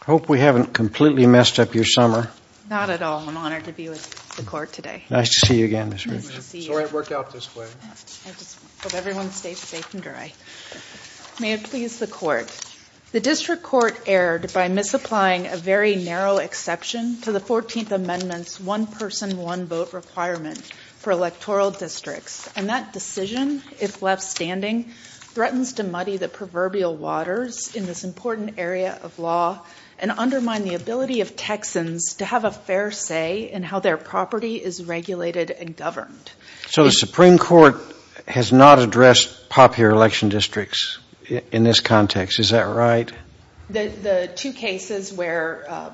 I hope we haven't completely messed up your summer. Not at all. I'm honored to be with the Court today. Nice to see you again, Ms. Rich. Sorry it worked out this way. Let everyone stay safe and dry. May it please the Court. The District Court erred by misapplying a very narrow exception to the 14th Amendment's one-person, one-vote requirement for electoral districts. And that decision, if left standing, threatens to muddy the proverbial waters in this important area of law and undermine the ability of Texans to have a fair say in how their property is regulated and governed. So the Supreme Court has not addressed popular election districts in this context. Is that right? The two cases where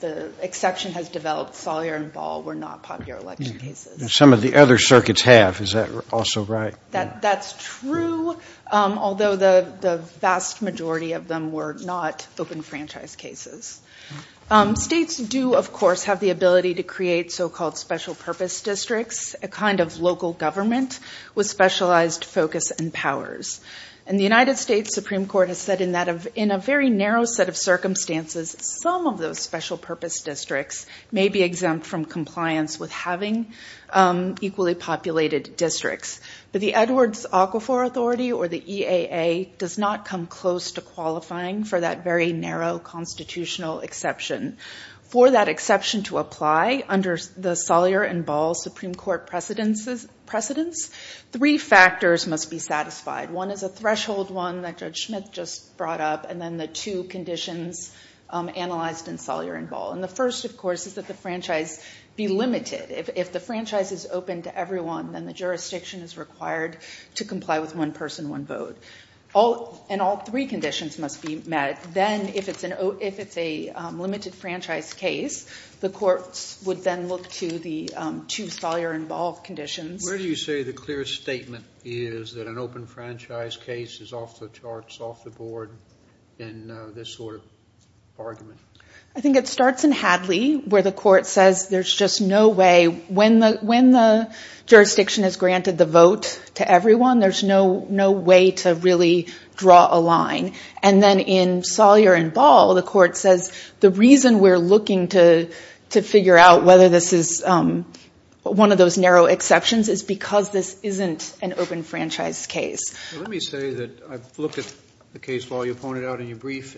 the exception has developed, Sawyer and Ball, were not popular election cases. Some of the other circuits have. Is that also right? That's true, although the vast majority of them were not open franchise cases. States do, of course, have the ability to create so-called special purpose districts, a kind of local government with specialized focus and powers. And the United States Supreme Court has said in a very narrow set of circumstances, some of those special purpose districts may be exempt from compliance with having equally populated districts. But the Edwards-Aquifor Authority, or the EAA, does not come close to qualifying for that very narrow constitutional exception. For that exception to apply under the Sawyer and Ball Supreme Court precedence, three factors must be satisfied. One is a threshold one that Judge Smith just brought up, and then the two conditions analyzed in Sawyer and Ball. And the first, of course, is that the franchise be limited. If the franchise is open to everyone, then the jurisdiction is required to comply with one person, one vote. And all three conditions must be met. Then if it's a limited franchise case, the courts would then look to the two Sawyer and Ball conditions. Where do you say the clear statement is that an open franchise case is off the charts, off the board, in this sort of argument? I think it starts in Hadley, where the court says there's just no way, when the jurisdiction has granted the vote to everyone, there's no way to really draw a line. And then in Sawyer and Ball, the court says, the reason we're looking to figure out whether this is one of those narrow exceptions is because this isn't an open franchise case. Let me say that I've looked at the case, Paul, you pointed out in your brief,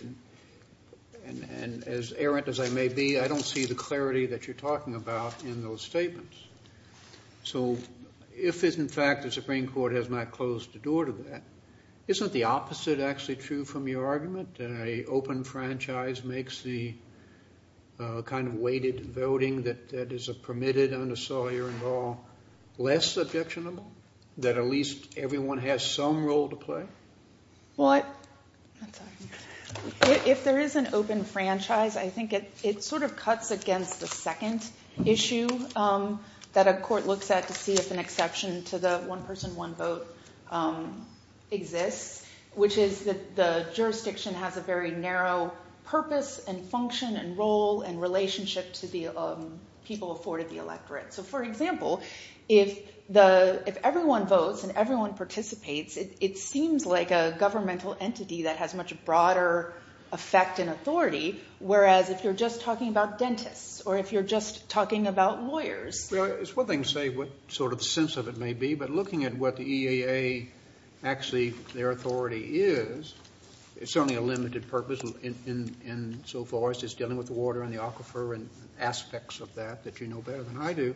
and as errant as I may be, I don't see the clarity that you're talking about in those statements. So if, in fact, the Supreme Court has not closed the door to that, isn't the opposite actually true from your argument? That an open franchise makes the kind of weighted voting that is permitted under Sawyer and Ball less objectionable? That at least everyone has some role to play? Well, if there is an open franchise, I think it sort of cuts against the second issue that a court looks at to see if an exception to the one person, one vote exists, which is that the jurisdiction has a very narrow purpose and function and role and relationship to the people afforded the electorate. So for example, if everyone votes and everyone participates, it seems like a governmental entity that has much broader effect and authority. Whereas if you're just talking about dentists, or if you're just talking about lawyers... Well, it's one thing to say what sort of the sense of it may be, but looking at what the EAA, actually, their authority is, it's certainly a limited purpose in so far as just dealing with the water and the aquifer and aspects of that that you know better than I do.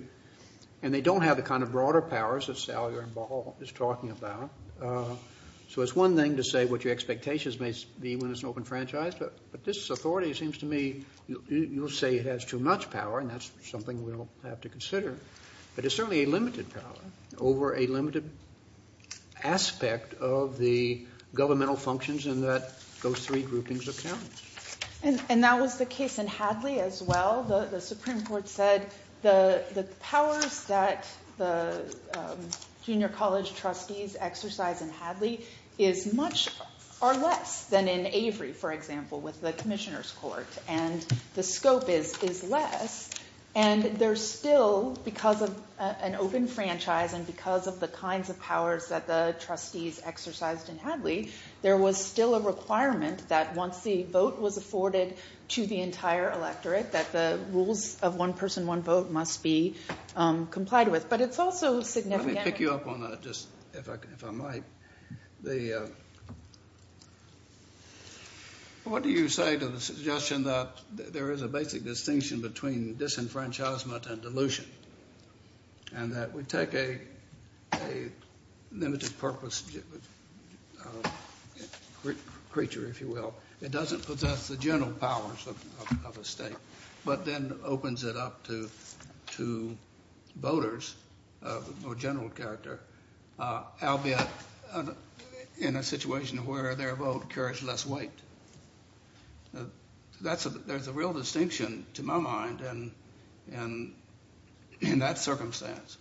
And they don't have the kind of broader powers that Sawyer and Ball is talking about. So it's one thing to say what your expectations may be when it's an open franchise, but this authority seems to me, you'll say it has too much power, and that's something we'll have to consider. But it's certainly a limited power over a limited aspect of the governmental functions in that those three groupings of count. And that was the case in Hadley as well. The Supreme Court said the powers that the junior college trustees exercise in Hadley are less than in Avery, for example, with the Commissioner's Court, and the scope is less. And there's still, because of an open franchise and because of the kinds of powers that the trustees exercised in Hadley, there was still a requirement that once the vote was afforded to the entire electorate, that the rules of one person, one vote must be complied with. But it's also significant. Let me pick you up on that, if I might. What do you say to the suggestion that there is a basic distinction between disenfranchisement and dilution? And that we take a limited purpose creature, if you will, it doesn't possess the general powers of a state. But then opens it up to voters or general character, albeit in a situation where their vote carries less weight. There's a real distinction, to my mind, in that circumstance.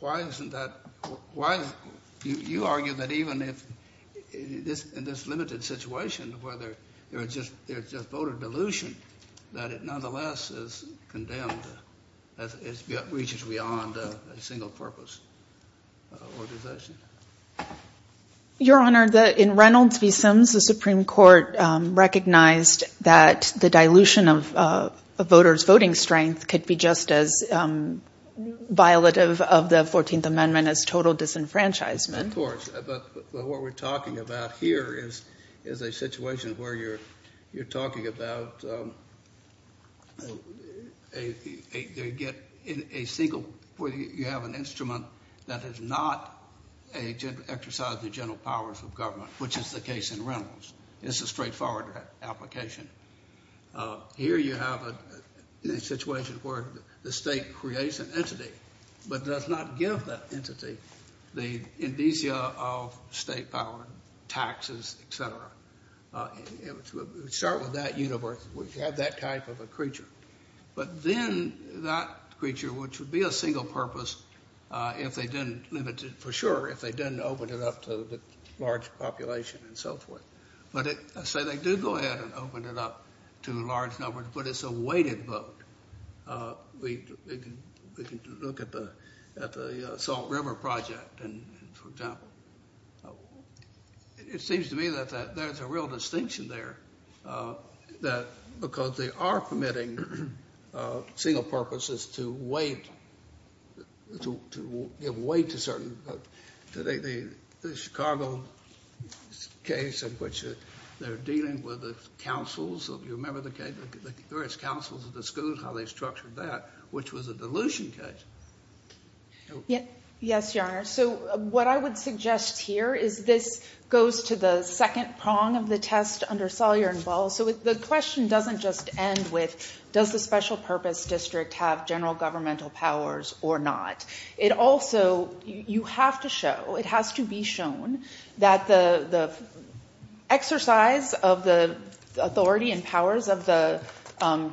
Why isn't that, why, you argue that even if, in this limited situation, whether there's just voter dilution, that it nonetheless is condemned as it reaches beyond a single-purpose organization. Your Honor, in Reynolds v. Sims, the Supreme Court recognized that the dilution of a voter's voting strength could be just as violative of the 14th Amendment as total disenfranchisement. Of course, but what we're talking about here is a situation where you're talking about a single, where you have an instrument that does not exercise the general powers of government, which is the case in Reynolds. It's a straightforward application. Here you have a situation where the state creates an entity, but does not give that entity the indicia of state power, taxes, et cetera. It would start with that universe, we have that type of a creature. But then that creature, which would be a single-purpose if they didn't limit it, for sure, if they didn't open it up to the large population and so forth. But let's say they did go ahead and open it up to a large number, but it's a weighted vote. We can look at the Salt River Project, for example. It seems to me that there's a real distinction there, because they are permitting single-purposes to give weight to certain votes. The Chicago case in which they're dealing with the councils, so if you remember the various councils of the schools, how they structured that, which was a dilution case. Yes, Your Honor. So what I would suggest here is this goes to the second prong of the test under Salyer and Ball. So the question doesn't just end with, does the special-purpose district have general governmental powers or not? It also, you have to show, it has to be shown that the exercise of the authority and powers of the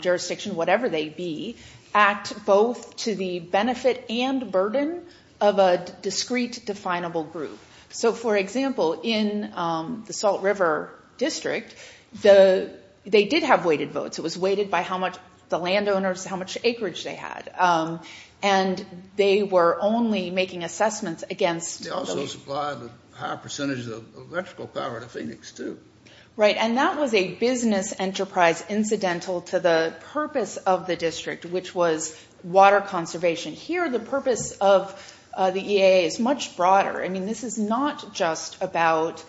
jurisdiction, whatever they be, act both to the benefit and burden of a discrete, definable group. So for example, in the Salt River District, they did have weighted votes. It was weighted by how much the landowners, how much acreage they had. And they were only making assessments against... They also supplied a higher percentage of electrical power to Phoenix too. Right. And that was a business enterprise incidental to the purpose of the district, which was water conservation. Here, the purpose of the EAA is much broader. I mean, this is not just about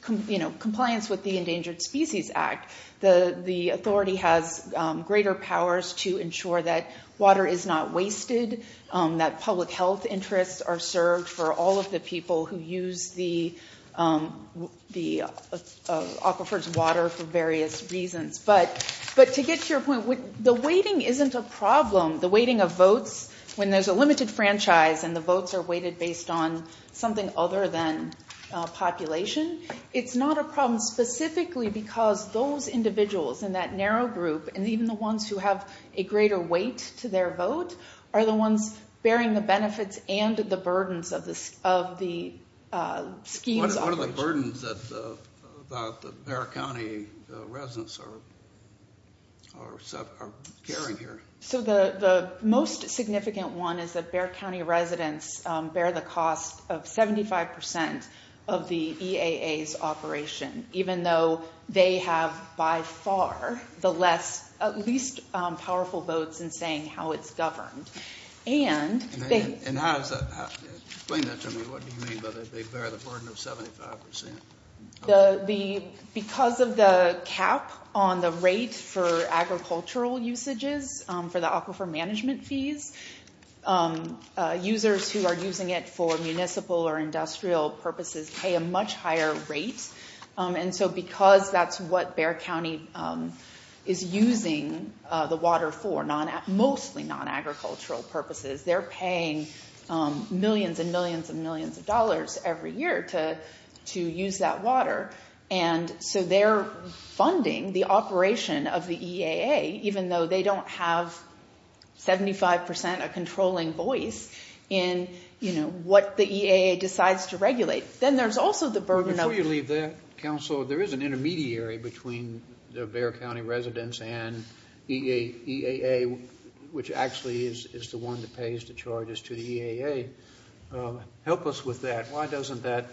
compliance with the Endangered Species Act. The authority has greater powers to ensure that water is not wasted, that public health interests are served for all of the people who use the Aquifers water for various reasons. But to get to your point, the weighting isn't a problem. The weighting of votes, when there's a limited franchise and the votes are weighted based on something other than population, it's not a problem specifically because those individuals in that narrow group, and even the ones who have a greater weight to their vote, are the ones bearing the benefits and the burdens of the scheme's operation. What are the burdens that the Bexar County residents are carrying here? So the most significant one is that Bexar County residents bear the cost of 75% of the EAA's operation, even though they have, by far, the least powerful votes in saying how it's governed. And explain that to me. What do you mean by they bear the burden of 75%? Because of the cap on the rate for agricultural usages for the Aquifer management fees, users who are using it for municipal or industrial purposes pay a much higher rate. And so because that's what Bexar County is using the water for, mostly non-agricultural purposes, they're paying millions and millions and millions of dollars every year to use that water. And so they're funding the operation of the EAA, even though they don't have 75% a controlling voice in what the EAA decides to regulate. Then there's also the burden of- But before you leave that, counsel, there is an intermediary between the Bexar County residents and EAA, which actually is the one that pays the charges to the EAA. Help us with that. Why doesn't that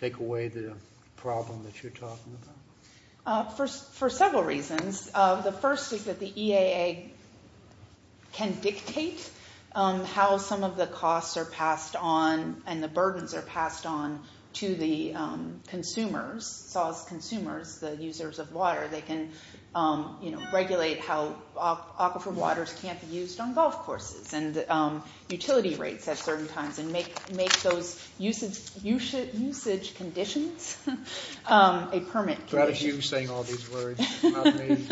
take away the problem that you're talking about? For several reasons. The first is that the EAA can dictate how some of the costs are passed on and the burdens are passed on to the consumers, SAWS consumers, the users of water. They can regulate how Aquifer waters can't be used on golf courses and utility rates at certain times and make those usage conditions a permit. Without you saying all these words about me.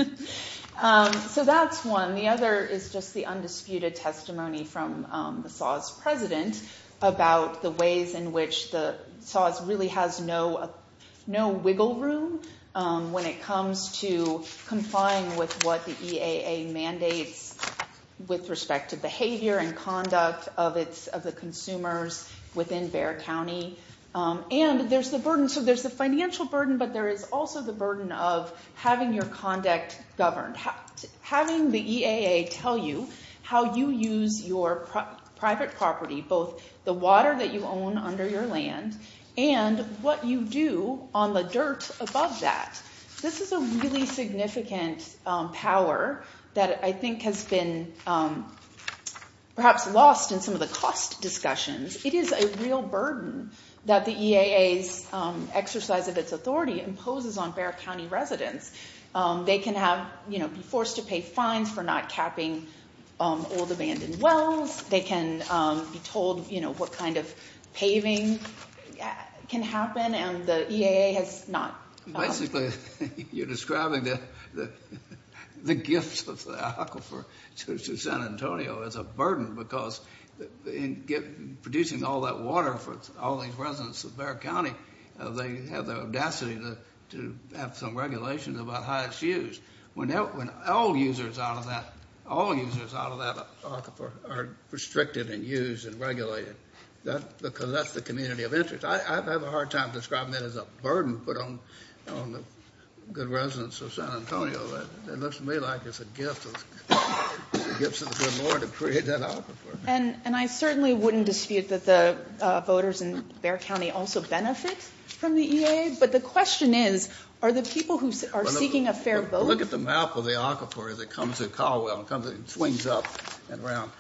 So that's one. The other is just the undisputed testimony from the SAWS president about the ways in which the SAWS really has no wiggle room when it comes to complying with what the EAA mandates with respect to behavior and conduct of the consumers within Bexar County. And there's the burden. So there's the financial burden, but there is also the burden of having your conduct governed, having the EAA tell you how you use your private property, both the water that you own under your land and what you do on the dirt above that. This is a really significant power that I think has been perhaps lost in some of the cost discussions. It is a real burden that the EAA's exercise of its authority imposes on Bexar County residents. They can be forced to pay fines for not capping old abandoned wells. They can be told what kind of paving can happen, and the EAA has not. Basically, you're describing the gifts of the Aquifer to San Antonio as a burden because in producing all that water for all these residents of Bexar County, they have the audacity to have some regulations about how it's used. When all users out of that Aquifer are restricted and used and regulated, that's because that's the community of interest. I have a hard time describing that as a burden put on the good residents of San Antonio. It looks to me like it's a gift of the good Lord to create that Aquifer. And I certainly wouldn't dispute that the voters in Bexar County also benefit from the EAA, but the question is, are the people who are seeking a fair vote— Look at the map of the Aquifer as it comes through Caldwell. It swings up and around.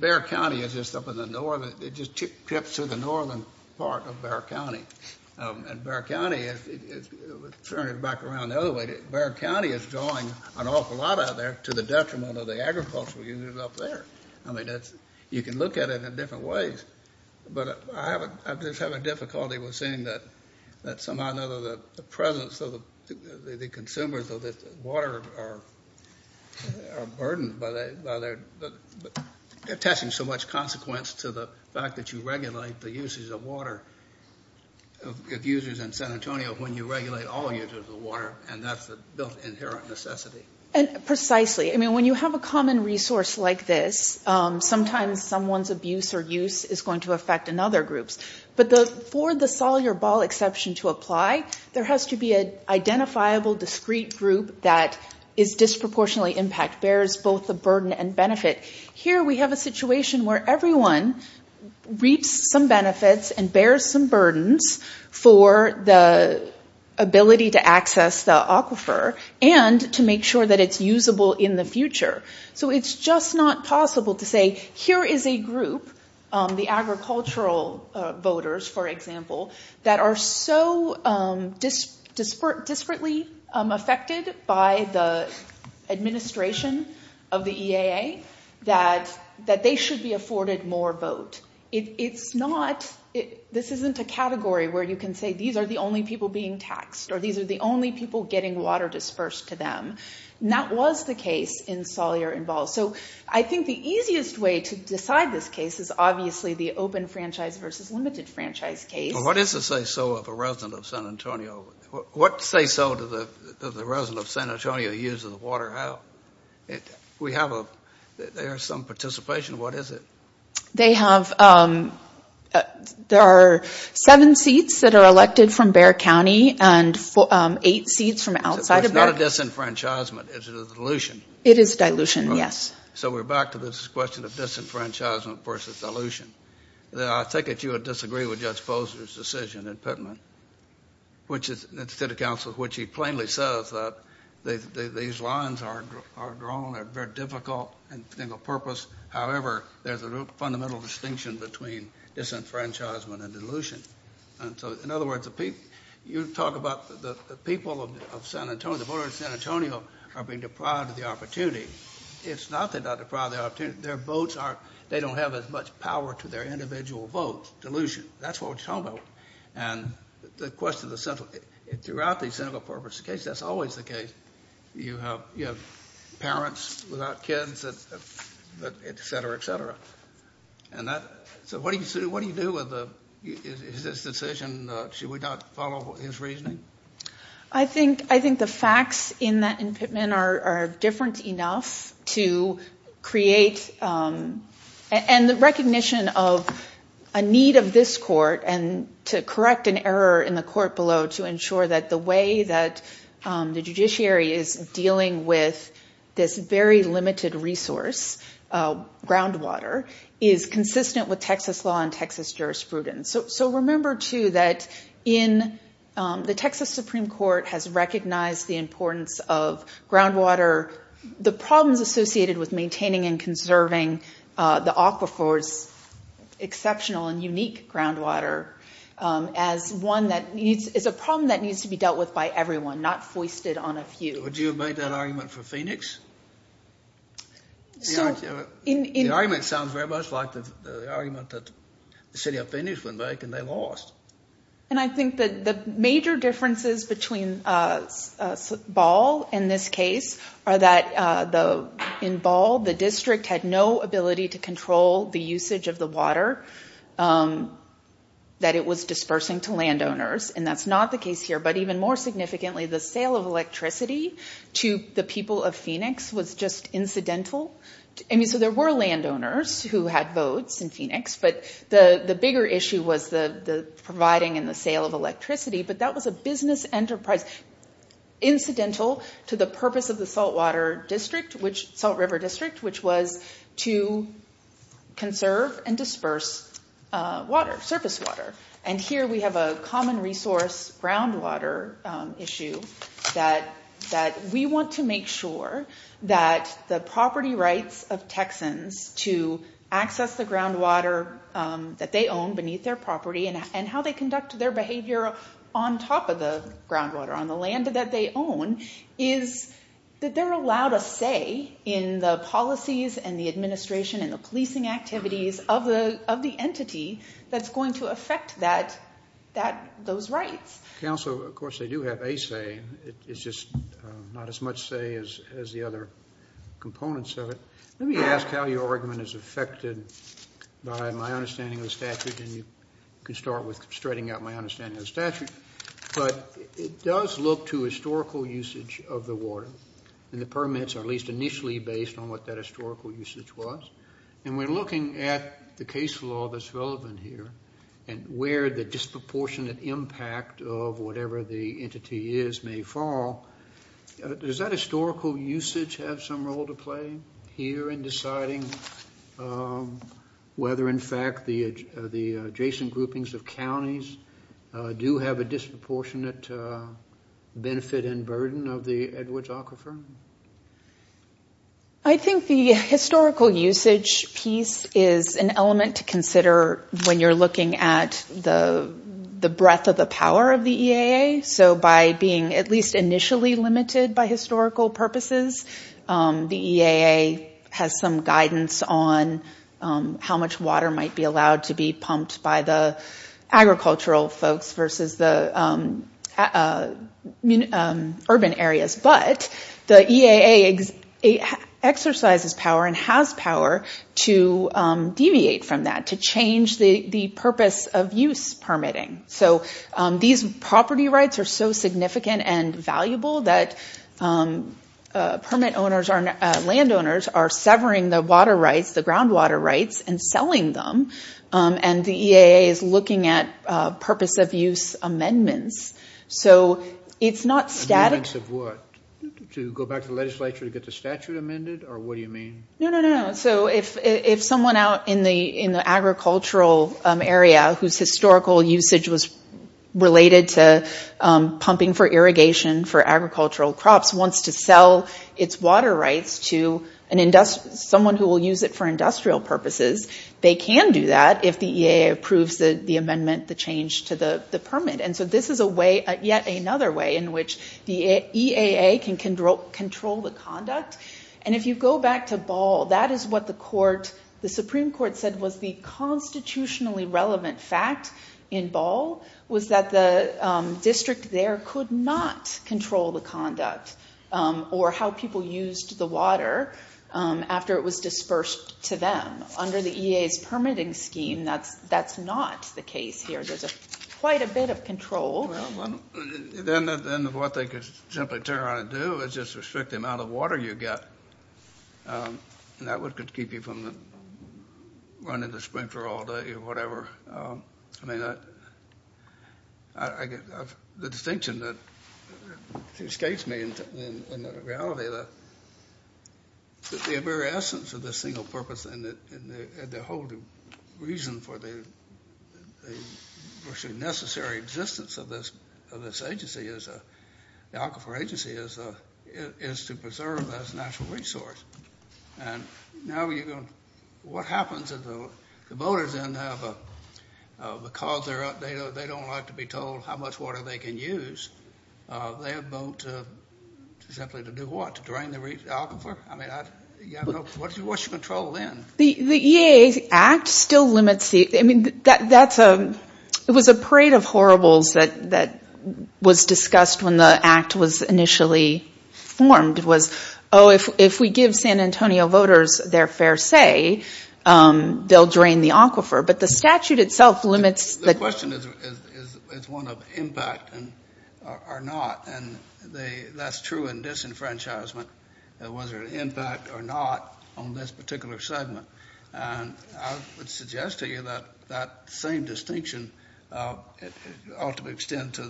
Bexar County is just up in the north. It just trips through the northern part of Bexar County. And Bexar County is—turn it back around the other way— Bexar County is drawing an awful lot out of there to the detriment of the agricultural unit up there. I mean, you can look at it in different ways. But I just have a difficulty with seeing that somehow or another the presence of the consumers of the water are burdened by their— They're attaching so much consequence to the fact that you regulate the usage of water— of users in San Antonio when you regulate all users of water, and that's a built-in inherent necessity. And precisely. I mean, when you have a common resource like this, sometimes someone's abuse or use is going to affect another group's. But for the Solyer Ball exception to apply, there has to be an identifiable, discrete group that is disproportionately impacted, bears both the burden and benefit. Here we have a situation where everyone reaps some benefits and bears some burdens for the ability to access the aquifer and to make sure that it's usable in the future. So it's just not possible to say, here is a group—the agricultural voters, for example— that are so disparately affected by the administration of the EAA that they should be afforded more vote. It's not—this isn't a category where you can say, these are the only people being taxed or these are the only people getting water dispersed to them. That was the case in Solyer and Ball. So I think the easiest way to decide this case is obviously the open franchise versus limited franchise case. What is the say-so of a resident of San Antonio? What say-so does the resident of San Antonio use of the water have? There is some participation. What is it? They have—there are seven seats that are elected from Bexar County and eight seats from outside of Bexar County. So it's not a disenfranchisement. It's a dilution. It is a dilution, yes. So we're back to this question of disenfranchisement versus dilution. I take it you would disagree with Judge Posner's decision in Pittman, which is—the city council, which he plainly says that these lines are drawn at very difficult and single purpose. However, there's a fundamental distinction between disenfranchisement and dilution. And so, in other words, you talk about the people of San Antonio, the voters of San Antonio are being deprived of the opportunity. It's not that they're not deprived of the opportunity. Their votes are—they don't have as much power to their individual votes. Dilution. That's what we're talking about. And the question is essential. Throughout these single purpose cases, that's always the case. You have parents without kids, et cetera, et cetera. And that—so what do you do with this decision? Should we not follow his reasoning? I think the facts in that—in Pittman are different enough to create— and the recognition of a need of this court and to correct an error in the court below to ensure that the way that the judiciary is dealing with this very limited resource, groundwater, is consistent with Texas law and Texas jurisprudence. So remember, too, that in—the Texas Supreme Court has recognized the importance of groundwater. The problems associated with maintaining and conserving the aquifers, exceptional and unique groundwater, as one that needs—is a problem that needs to be dealt with by everyone, not foisted on a few. Would you have made that argument for Phoenix? The argument sounds very much like the argument that the city of Phoenix went back and they lost. And I think that the major differences between Ball in this case are that in Ball, the district had no ability to control the usage of the water that it was dispersing to landowners. And that's not the case here. But even more significantly, the sale of electricity to the people of Phoenix was just incidental. I mean, so there were landowners who had votes in Phoenix, but the bigger issue was the providing and the sale of electricity. But that was a business enterprise, incidental to the purpose of the Salt River District, which was to conserve and disperse water, surface water. And here we have a common resource groundwater issue that we want to make sure that the property rights of Texans to access the groundwater that they own beneath their property and how they conduct their behavior on top of the groundwater on the land that they own is that they're allowed a say in the policies and the administration and the policing activities of the entity that's going to affect those rights. Council, of course, they do have a say. It's just not as much say as the other components of it. Let me ask how your argument is affected by my understanding of the statute and you can start with straightening out my understanding of the statute. But it does look to historical usage of the water and the permits are at least initially based on what that historical usage was. And we're looking at the case law that's relevant here and where the disproportionate impact of whatever the entity is may fall. Does that historical usage have some role to play here in deciding whether, in fact, the adjacent groupings of counties do have a disproportionate benefit and burden of the Edwards Aquifer? I think the historical usage piece is an element to consider when you're looking at the breadth of the power of the EAA. So by being at least initially limited by historical purposes, the EAA has some guidance on how much water might be allowed to be pumped by the agricultural folks versus the urban areas. But the EAA exercises power and has power to deviate from that, to change the purpose of use permitting. So these property rights are so significant and valuable that permit owners or landowners are severing the water rights, the groundwater rights, and selling them. And the EAA is looking at purpose of use amendments. So it's not static. Amendments of what? To go back to the legislature to get the statute amended? Or what do you mean? No, no, no. If someone out in the agricultural area whose historical usage was related to pumping for irrigation for agricultural crops wants to sell its water rights to someone who will use it for industrial purposes, they can do that if the EAA approves the amendment, the change to the permit. And so this is yet another way in which the EAA can control the conduct. And if you go back to Ball, that is what the Supreme Court said was the constitutionally relevant fact in Ball, was that the district there could not control the conduct or how people used the water after it was dispersed to them. Under the EAA's permitting scheme, that's not the case here. There's quite a bit of control. Then what they could simply turn around and do is just restrict the amount of water you get. And that would keep you from running the sprinkler all day or whatever. I mean, the distinction that escapes me in reality, the very essence of the single purpose and the whole reason for the necessary existence of this agency, the Aquifer Agency, is to preserve as a natural resource. And now what happens if the voters, because they don't like to be told how much water they can use, they vote simply to do what? To drain the aquifer? I mean, what's your control then? The EAA Act still limits the, I mean, that's a, it was a parade of horribles that was discussed when the Act was initially formed. It was, oh, if we give San Antonio voters their fair say, they'll drain the aquifer. But the statute itself limits the- The question is one of impact or not. And that's true in disenfranchisement. Was there an impact or not on this particular segment? And I would suggest to you that that same distinction ought to extend to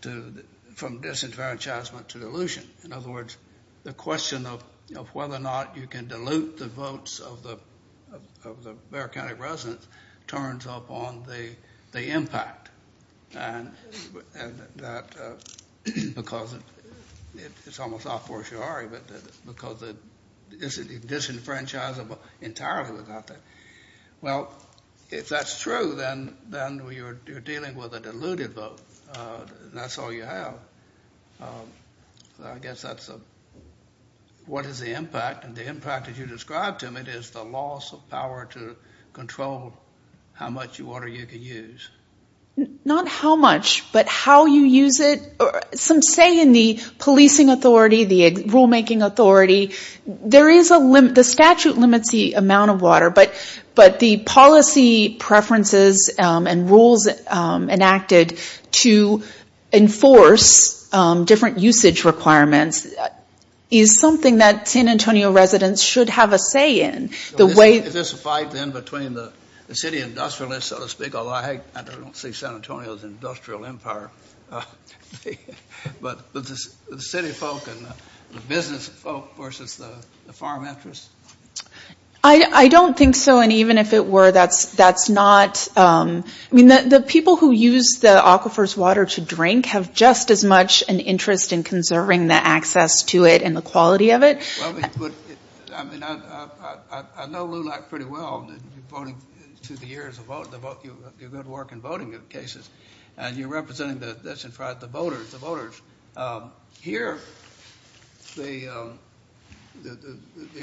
the, from disenfranchisement to dilution. In other words, the question of whether or not you can dilute the votes of the Bexar County residents turns up on the impact. And that, because it's almost not fortiori, but because it isn't disenfranchisable entirely without that. Well, if that's true, then you're dealing with a diluted vote. That's all you have. I guess that's a, what is the impact? And the impact that you described to me is the loss of power to control how much water you can use. Not how much, but how you use it. Some say in the policing authority, the rulemaking authority. There is a limit. The statute limits the amount of water. But the policy preferences and rules enacted to enforce different usage requirements is something that San Antonio residents should have a say in. The way- Is this a fight then between the city industrialists, so to speak? I don't see San Antonio as an industrial empire. But the city folk and the business folk versus the farm interests? I don't think so. And even if it were, that's not- I mean, the people who use the aquifer's water to drink have just as much an interest in conserving the access to it and the quality of it. I mean, I know LULAC pretty well. Through the years of your good work in voting cases. And you're representing the voters. Here, the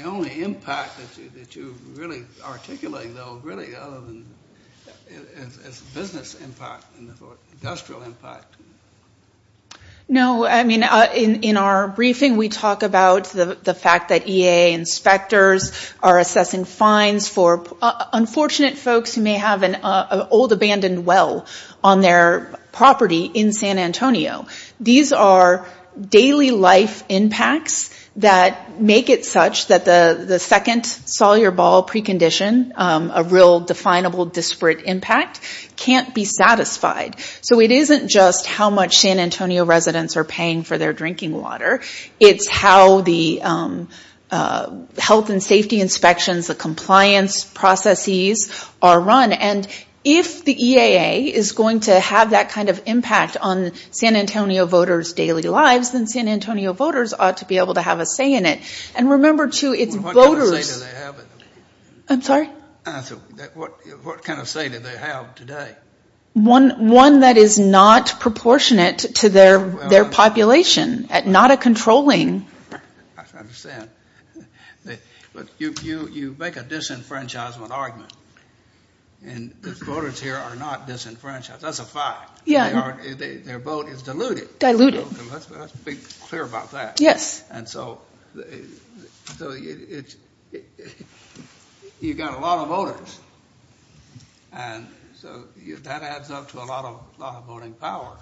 only impact that you really articulate, though, really is business impact and industrial impact. No. I mean, in our briefing, we talk about the fact that EA inspectors are assessing fines for unfortunate folks who may have an old abandoned well on their property in San Antonio. These are daily life impacts that make it such that the second Sawyer Ball precondition, a real definable disparate impact, can't be satisfied. So it isn't just how much San Antonio residents are paying for their drinking water. It's how the health and safety inspections, the compliance processes are run. And if the EAA is going to have that kind of impact on San Antonio voters' daily lives, then San Antonio voters ought to be able to have a say in it. And remember, too, it's voters- What kind of say do they have today? One that is not proportionate to their population. Not a controlling- I understand. But you make a disenfranchisement argument. And the voters here are not disenfranchised. That's a fact. Their vote is diluted. Diluted. Let's be clear about that. Yes. And so you've got a lot of voters. And so that adds up to a lot of voting power.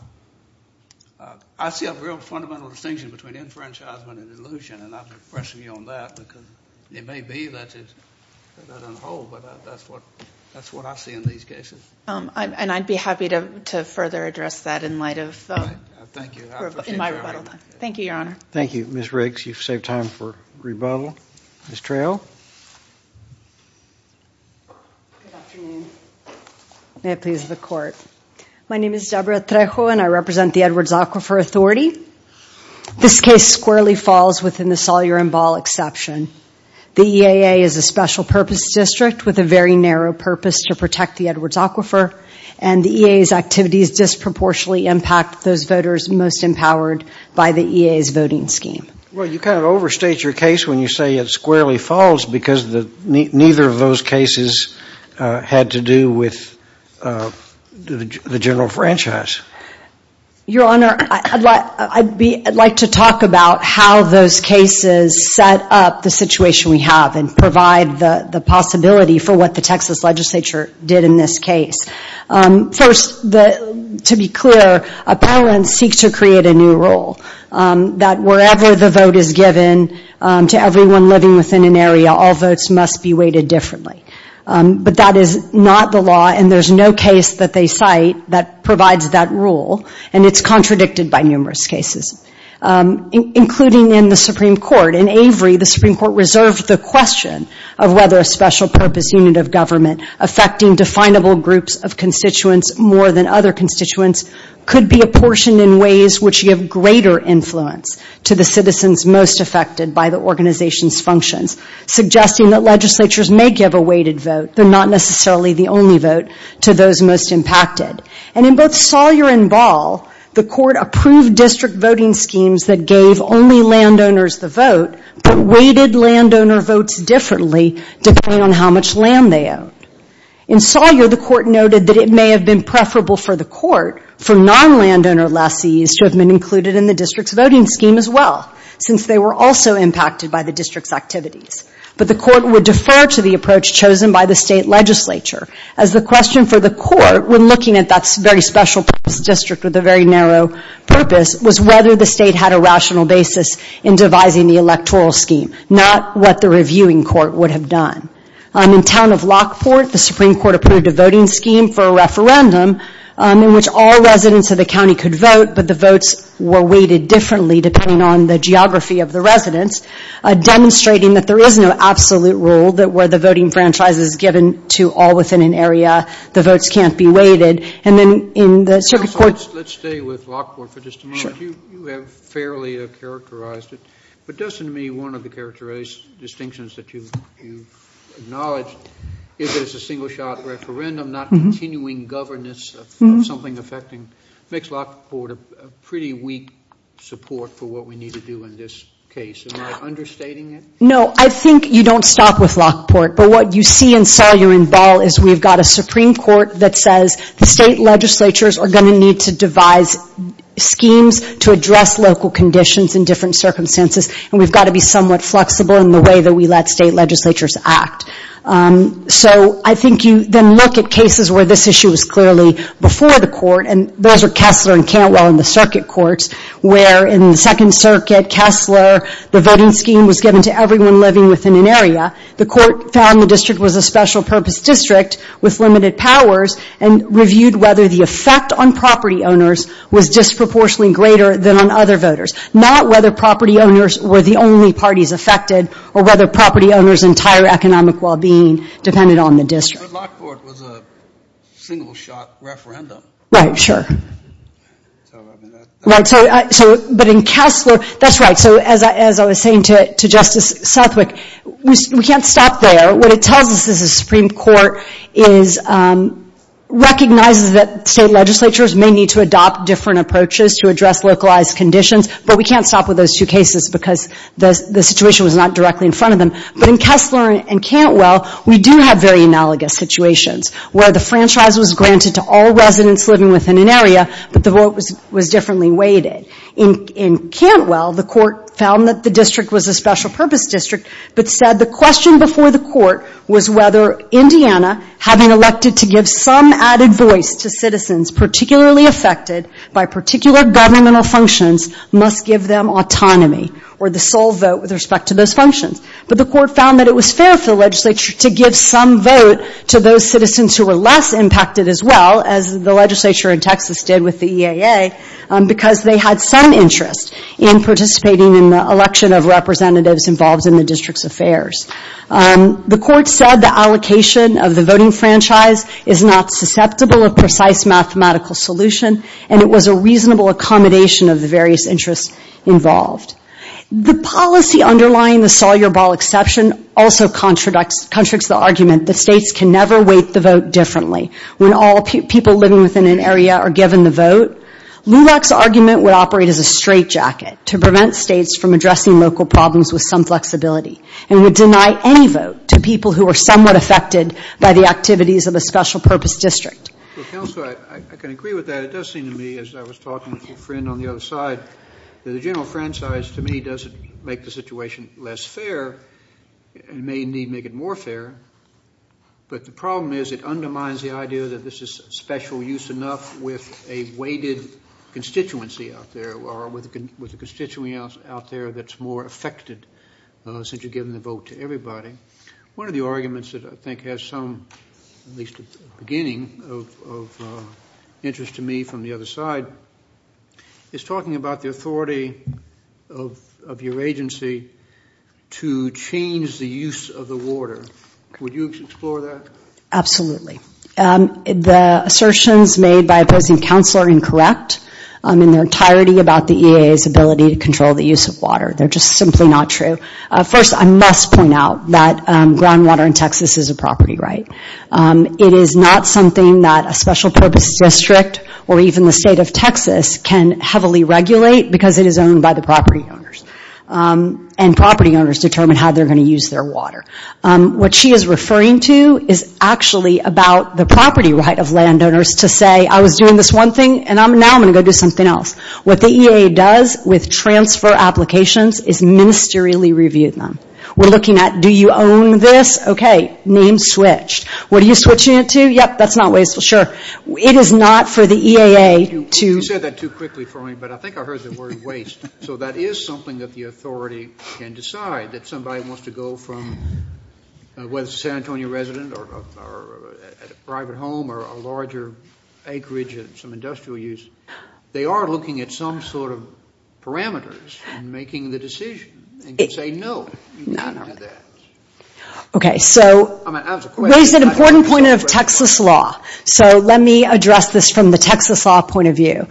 I see a real fundamental distinction between enfranchisement and illusion. And I'm impressing you on that because it may be that it doesn't hold. But that's what I see in these cases. And I'd be happy to further address that in light of- All right. Thank you. I appreciate your argument. Thank you, Your Honor. Thank you, Ms. Riggs. You've saved time for rebuttal. Ms. Traill. Good afternoon. May it please the Court. My name is Deborah Traill and I represent the Edwards Aquifer Authority. This case squarely falls within the Sawyer and Ball exception. The EAA is a special purpose district with a very narrow purpose to protect the Edwards Aquifer. And the EAA's activities disproportionately impact those voters most empowered by the EAA's voting scheme. Well, you kind of overstate your case when you say it squarely falls because neither of those cases had to do with the general franchise. Your Honor, I'd like to talk about how those cases set up the situation we have and provide the possibility for what the Texas legislature did in this case. First, to be clear, appellants seek to create a new rule that wherever the vote is given to everyone living within an area, all votes must be weighted differently. But that is not the law and there's no case that they cite that provides that rule and it's contradicted by numerous cases. Including in the Supreme Court, in Avery, the Supreme Court reserved the question of whether a special purpose unit of government affecting definable groups of constituents more than other constituents could be apportioned in ways which give greater influence to the citizens most affected by the organization's functions. Suggesting that legislatures may give a weighted vote, but not necessarily the only vote to those most impacted. And in both Sawyer and Ball, the court approved district voting schemes that gave only landowners the vote, but weighted landowner votes differently depending on how much land they own. In Sawyer, the court noted that it may have been preferable for the court, for non-landowner lessees to have been included in the district's voting scheme as well, since they were also impacted by the district's activities. But the court would defer to the approach chosen by the state legislature, as the question for the court, when looking at that very special purpose district with a very narrow purpose, was whether the state had a rational basis in devising the electoral scheme, not what the reviewing court would have done. In town of Lockport, the Supreme Court approved a voting scheme for a referendum in which all residents of the county could vote, but the votes were weighted differently depending on the geography of the residents. Demonstrating that there is no absolute rule, that where the voting franchise is given to all within an area, the votes can't be weighted. And then in the circuit court- Let's stay with Lockport for just a moment. You have fairly characterized it, but doesn't it mean one of the characteristics, distinctions that you've acknowledged is that it's a single shot referendum, not continuing governance of something affecting, makes Lockport a pretty weak support for what we need to do in this case. Am I understating it? No, I think you don't stop with Lockport. But what you see in Salyer and Ball is we've got a Supreme Court that says, the state legislatures are going to need to devise schemes to address local conditions in different circumstances. And we've got to be somewhat flexible in the way that we let state legislatures act. So I think you then look at cases where this issue was clearly before the court, and those are Kessler and Cantwell in the circuit courts, where in the Second Circuit, Kessler, the voting scheme was given to everyone living within an area. The court found the district was a special purpose district with limited powers and reviewed whether the effect on property owners was disproportionately greater than on other voters. Not whether property owners were the only parties affected or whether property owners' entire economic well-being depended on the district. But Lockport was a single-shot referendum. Right, sure. But in Kessler, that's right. So as I was saying to Justice Southwick, we can't stop there. What it tells us is the Supreme Court recognizes that state legislatures may need to adopt different approaches to address localized conditions. But we can't stop with those two cases because the situation was not directly in front of them. But in Kessler and Cantwell, we do have very analogous situations where the franchise was granted to all residents living within an area, but the vote was differently weighted. In Cantwell, the court found that the district was a special purpose district, but said the question before the court was whether Indiana, having elected to give some added voice to citizens particularly affected by particular governmental functions, must give them autonomy or the sole vote with respect to those functions. But the court found that it was fair for the legislature to give some vote to those citizens who were less impacted as well, as the legislature in Texas did with the EAA, because they had some interest in participating in the election of representatives involved in the district's affairs. The court said the allocation of the voting franchise is not susceptible of precise mathematical solution. It was a reasonable accommodation of the various interests involved. The policy underlying the Sawyer Ball exception also contradicts the argument that states can never weight the vote differently when all people living within an area are given the vote. LULAC's argument would operate as a straitjacket to prevent states from addressing local problems with some flexibility and would deny any vote to people who are somewhat affected by the activities of a special purpose district. Well, Counselor, I can agree with that. It does seem to me as I was talking with your friend on the other side that the general franchise to me doesn't make the situation less fair. It may indeed make it more fair, but the problem is it undermines the idea that this is special use enough with a weighted constituency out there or with a constituency out there that's more affected since you're giving the vote to everybody. One of the arguments that I think has some, at least at the beginning, of interest to me from the other side is talking about the authority of your agency to change the use of the water. Would you explore that? Absolutely. The assertions made by opposing Counselor are incorrect in their entirety about the EAA's ability to control the use of water. They're just simply not true. First, I must point out that groundwater in Texas is a property right. It is not something that a special purpose district or even the state of Texas can heavily regulate because it is owned by the property owners. And property owners determine how they're going to use their water. What she is referring to is actually about the property right of landowners to say, I was doing this one thing and now I'm going to go do something else. What the EAA does with transfer applications is ministerially review them. We're looking at, do you own this? Okay, name switched. What are you switching it to? Yep, that's not wasteful. Sure. It is not for the EAA to... You said that too quickly for me, but I think I heard the word waste. So that is something that the authority can decide that somebody wants to go from whether it's a San Antonio resident or a private home or a larger acreage and some industrial use. They are looking at some sort of parameters in making the decision and can say, no, you can't do that. Okay, so... Raised an important point of Texas law. So let me address this from the Texas law point of view.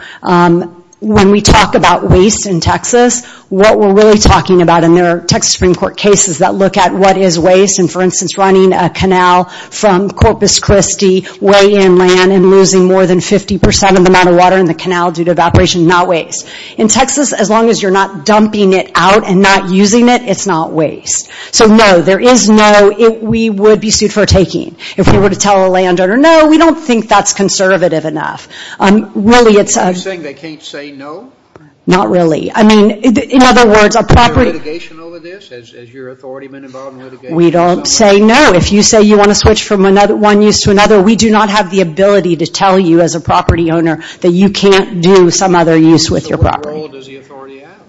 When we talk about waste in Texas, what we're really talking about in their Texas Supreme Court cases that look at what is waste and for instance, running a canal from Corpus Christi way inland and losing more than 50% of the amount of water in the canal due to evaporation, not waste. In Texas, as long as you're not dumping it out and not using it, it's not waste. So no, there is no... We would be sued for taking. If we were to tell a landowner, no, we don't think that's conservative enough. Really, it's... You're saying they can't say no? Not really. I mean, in other words, a property... Is there litigation over this? Has your authority been involved in litigation? We don't say no. If you say you want to switch from one use to another, we do not have the ability to tell you as a property owner that you can't do some other use with your property. What role does the authority have?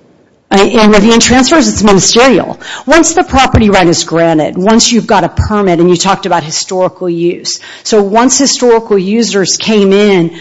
In revenue and transfers, it's ministerial. Once the property right is granted, once you've got a permit, and you talked about historical use. So once historical users came in,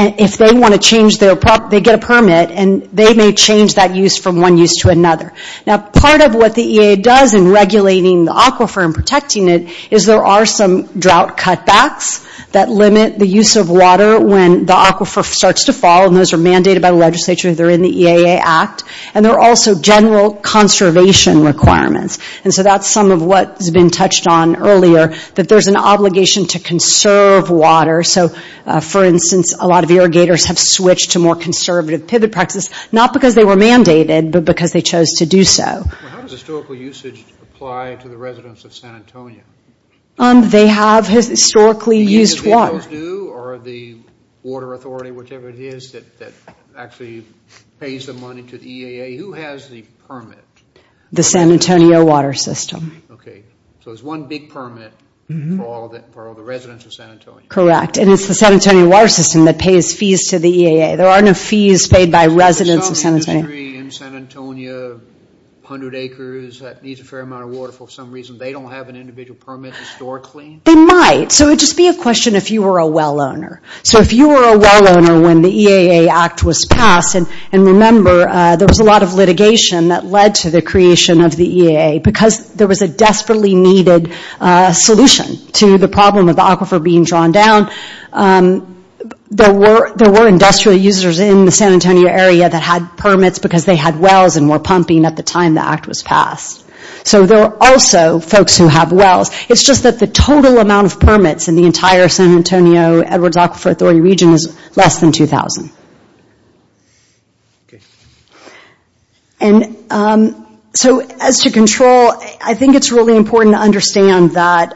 if they want to change their... They get a permit and they may change that use from one use to another. Now, part of what the EAA does in regulating the aquifer and protecting it is there are some drought cutbacks that limit the use of water when the aquifer starts to fall. And those are mandated by the legislature. They're in the EAA Act. And there are also general conservation requirements. And so that's some of what has been touched on earlier, that there's an obligation to conserve water. So, for instance, a lot of irrigators have switched to more conservative pivot practices, not because they were mandated, but because they chose to do so. How does historical usage apply to the residents of San Antonio? They have historically used water. Or the water authority, whichever it is, that actually pays the money to the EAA. Who has the permit? The San Antonio water system. Okay. So it's one big permit for all the residents of San Antonio. Correct. And it's the San Antonio water system that pays fees to the EAA. There are no fees paid by residents of San Antonio. In San Antonio, 100 acres, that needs a fair amount of water for some reason. They don't have an individual permit historically? They might. So it would just be a question if you were a well owner. So if you were a well owner when the EAA Act was passed, and remember, there was a lot of litigation that led to the creation of the EAA because there was a desperately needed solution to the problem of the aquifer being drawn down. There were industrial users in the San Antonio area that had permits because they had wells and were pumping at the time the Act was passed. So there are also folks who have wells. It's just that the total amount of permits in the entire San Antonio, Edwards Aquifer Authority region is less than 2,000. And so as to control, I think it's really important to understand that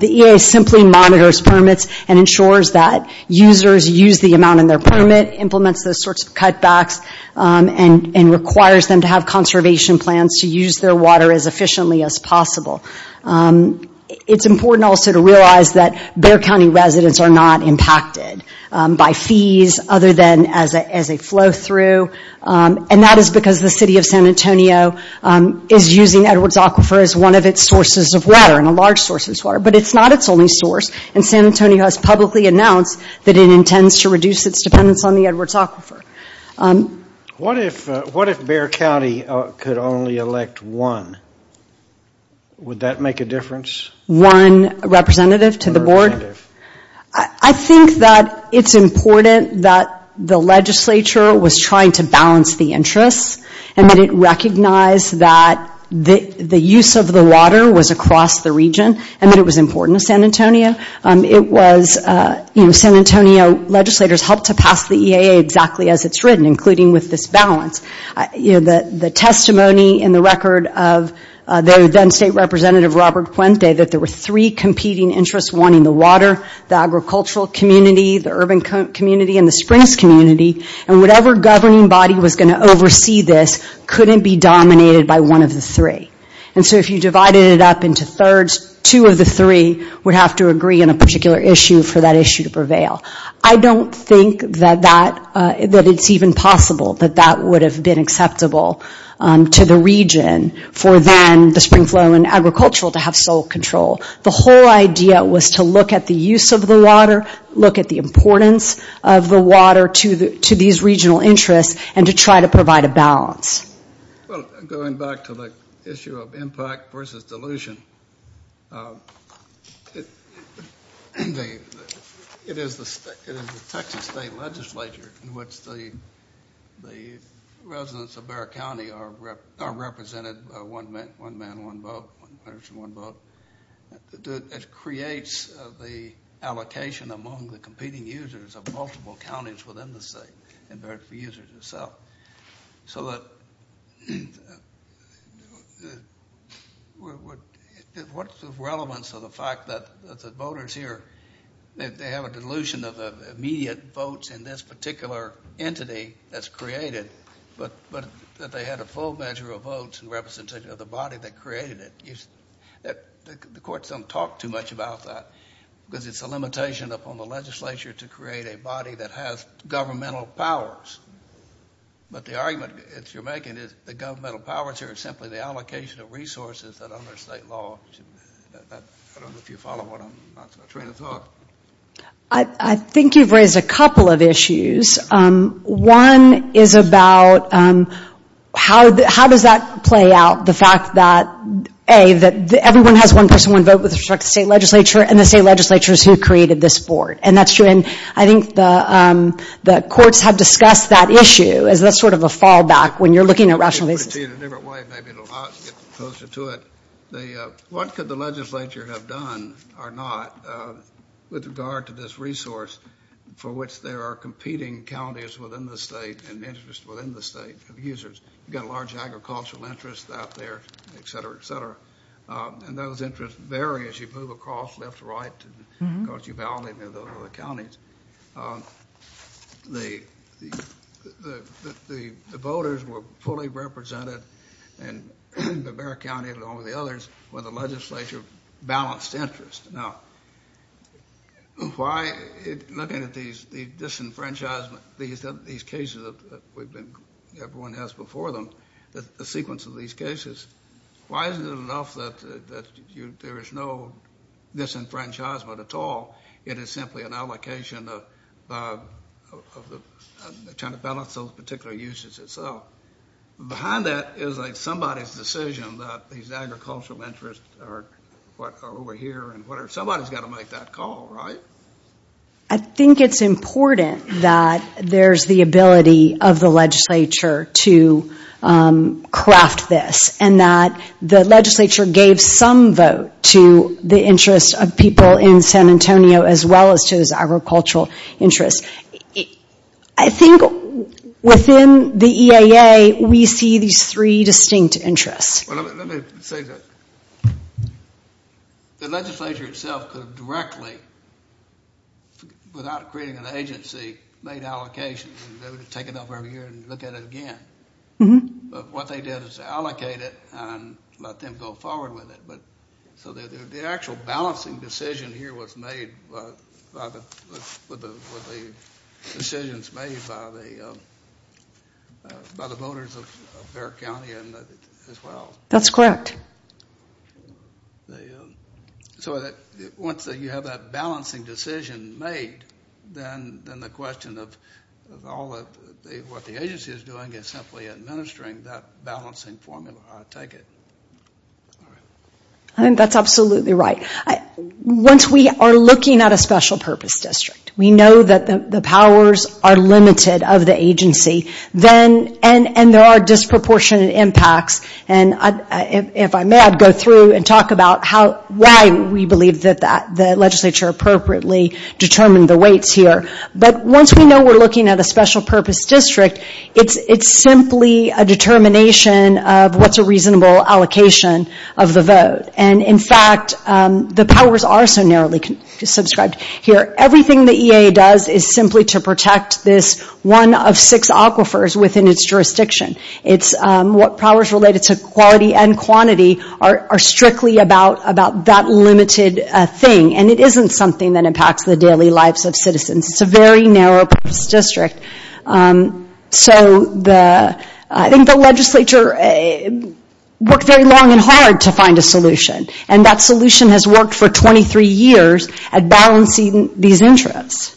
the EAA simply monitors permits and ensures that users use the amount in their permit, implements those sorts of cutbacks, and requires them to have conservation plans to use their water as efficiently as possible. It's important also to realize that Bexar County residents are not impacted by fees other than as a flow through. And that is because the city of San Antonio is using Edwards Aquifer as one of its sources of water, and a large source of water. But it's not its only source. And San Antonio has publicly announced that it intends to reduce its dependence on the Edwards Aquifer. What if Bexar County could only elect one? Would that make a difference? One representative to the board? I think that it's important that the legislature was trying to balance the interests, and that it recognized that the use of the water was across the region, and that it was important to San Antonio. It was San Antonio legislators helped to pass the EAA exactly as it's written, including with this balance. The testimony in the record of their then state representative, Robert Puente, that there were three competing interests, one in the water, the agricultural community, the urban community, and the springs community. And whatever governing body was going to oversee this couldn't be dominated by one of the three. And so if you divided it up into thirds, two of the three would have to agree on a particular issue for that issue to prevail. I don't think that it's even possible that that would have been acceptable to the region for then the spring flow and agricultural to have sole control. The whole idea was to look at the use of the water, look at the importance of the water to these regional interests, and to try to provide a balance. Well, going back to the issue of impact versus dilution, it is the Texas state legislature in which the residents of Bexar County are represented by one man, one vote, one person, one vote. It creates the allocation among the competing users of multiple counties within the state and their users itself. So what's the relevance of the fact that the voters here, that they have a dilution of immediate votes in this particular entity that's created, but that they had a full measure of votes in representation of the body that created it? The courts don't talk too much about that because it's a limitation upon the legislature to create a body that has governmental powers. But the argument that you're making is the governmental powers here is simply the allocation of resources that under state law. I don't know if you follow what I'm trying to talk. I think you've raised a couple of issues. One is about how does that play out, the fact that, A, that everyone has one person, one vote with respect to state legislature and the state legislatures who created this board. And that's true. And I think the courts have discussed that issue as that's sort of a fallback when you're looking at rational basis. In a different way, maybe it'll not get closer to it. What could the legislature have done or not with regard to this resource for which there are competing counties within the state and interests within the state of users? You've got a large agricultural interest out there, et cetera, et cetera. And those interests vary as you move across left to right because you validate those other counties. The voters were fully represented in Bexar County along with the others when the legislature balanced interest. Now, looking at the disenfranchisement, these cases that everyone has before them, the sequence of these cases, why isn't it enough that there is no disenfranchisement at all? It is simply an allocation of resources. It's an allocation of trying to balance those particular uses. And so behind that is somebody's decision that these agricultural interests are over here and whatever. Somebody's got to make that call, right? I think it's important that there's the ability of the legislature to craft this and that the legislature gave some vote to the interests of people in San Antonio as well as to those agricultural interests. I think within the EAA, we see these three distinct interests. Well, let me say that the legislature itself could have directly, without creating an agency, made allocations and they would have taken off every year and look at it again. But what they did is allocate it and let them go forward with it. So the actual balancing decision here was made with the decisions made by the voters of Bexar County as well. That's correct. So once you have that balancing decision made, then the question of what the agency is doing is simply administering that balancing formula, I take it. I think that's absolutely right. Once we are looking at a special purpose district, we know that the powers are limited of the agency. And there are disproportionate impacts. And if I may, I'd go through and talk about why we believe that the legislature appropriately determined the weights here. But once we know we're looking at a special purpose district, it's simply a determination of what's a reasonable allocation of the vote. In fact, the powers are so narrowly subscribed here. Everything the EA does is simply to protect this one of six aquifers within its jurisdiction. It's what powers related to quality and quantity are strictly about that limited thing. And it isn't something that impacts the daily lives of citizens. It's a very narrow purpose district. So I think the legislature worked very long and hard to find a solution. And that solution has worked for 23 years at balancing these interests.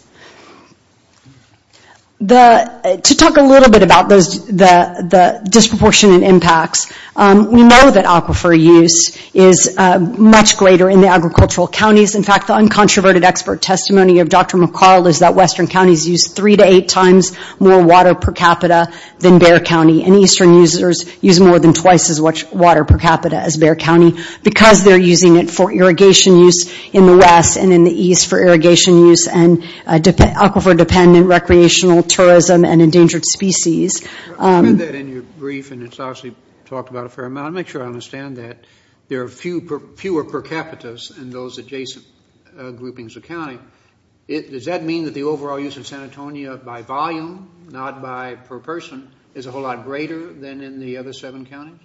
To talk a little bit about the disproportionate impacts, we know that aquifer use is much greater in the agricultural counties. In fact, the uncontroverted expert testimony of Dr. McCall is that western counties use three to eight times more water per capita than Bexar County. And eastern users use more than twice as much water per capita as Bexar County because they're using it for irrigation use in the west and in the east for irrigation use and aquifer-dependent recreational tourism and endangered species. I read that in your brief, and it's obviously talked about a fair amount. I'll make sure I understand that. There are fewer per capitas in those adjacent groupings of county. Does that mean that the overall use of San Antonio by volume, not by per person, is a whole lot greater than in the other seven counties?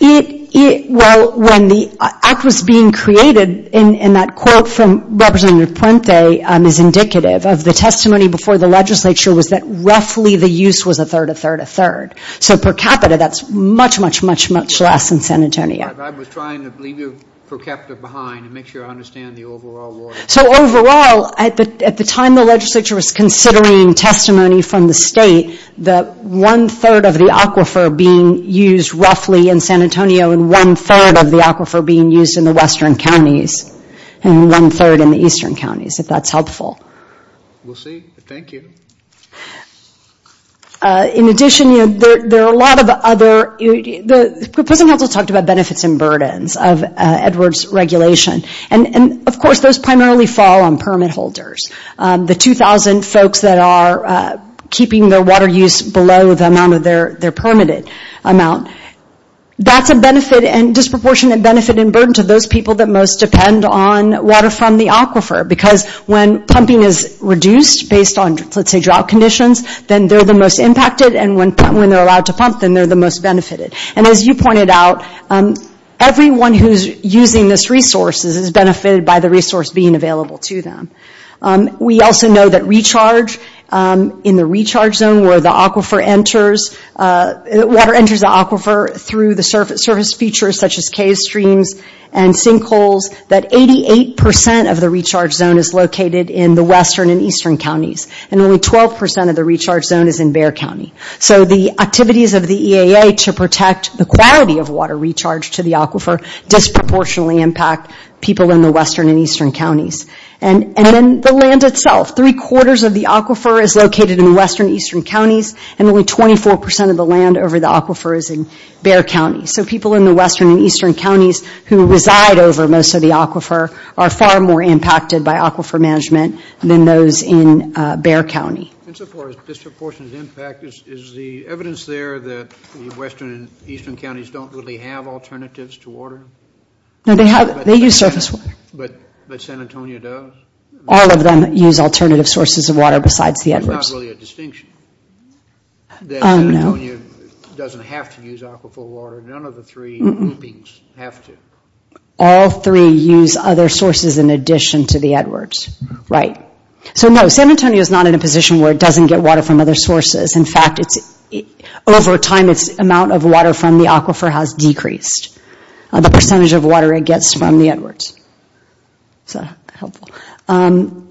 Well, when the act was being created, and that quote from Representative Prente is indicative of the testimony before the legislature was that roughly the use was a third, a third, a third. So per capita, that's much, much, much, much less in San Antonio. I was trying to leave you per capita behind and make sure I understand the overall water. So overall, at the time the legislature was considering testimony from the state, the one-third of the aquifer being used roughly in San Antonio and one-third of the aquifer being used in the western counties and one-third in the eastern counties, if that's helpful. We'll see. Thank you. In addition, you know, there are a lot of other – the President also talked about benefits and burdens of Edwards' regulation. And of course, those primarily fall on permit holders. The 2,000 folks that are keeping their water use below the amount of their permitted amount, that's a benefit and disproportionate benefit and burden to those people that most depend on water from the aquifer because when pumping is reduced based on, let's say, drought conditions, then they're the most impacted, and when they're allowed to pump, then they're the most benefited. And as you pointed out, everyone who's using these resources is benefited by the resource being available to them. We also know that recharge – in the recharge zone where the aquifer enters – water enters the aquifer through the surface features such as cave streams and sinkholes, that 88 percent of the recharge zone is located in the western and eastern counties, and only 12 percent of the recharge zone is in Bexar County. So the activities of the EAA to protect the quality of water recharged to the aquifer disproportionately impact people in the western and eastern counties. And then the land itself – three-quarters of the aquifer is located in the western and eastern counties, and only 24 percent of the land over the aquifer is in Bexar County. So people in the western and eastern counties who reside over most of the aquifer are far more impacted by aquifer management than those in Bexar County. And so far as disproportionate impact, is the evidence there that the western and eastern counties don't really have alternatives to water? No, they have – they use surface water. But San Antonio does? All of them use alternative sources of water besides the Edwards. There's not really a distinction that San Antonio doesn't have to use aquifer water. None of the three groupings have to. All three use other sources in addition to the Edwards. Right. So no, San Antonio is not in a position where it doesn't get water from other sources. In fact, it's – over time, its amount of water from the aquifer has decreased – the percentage of water it gets from the Edwards. Is that helpful?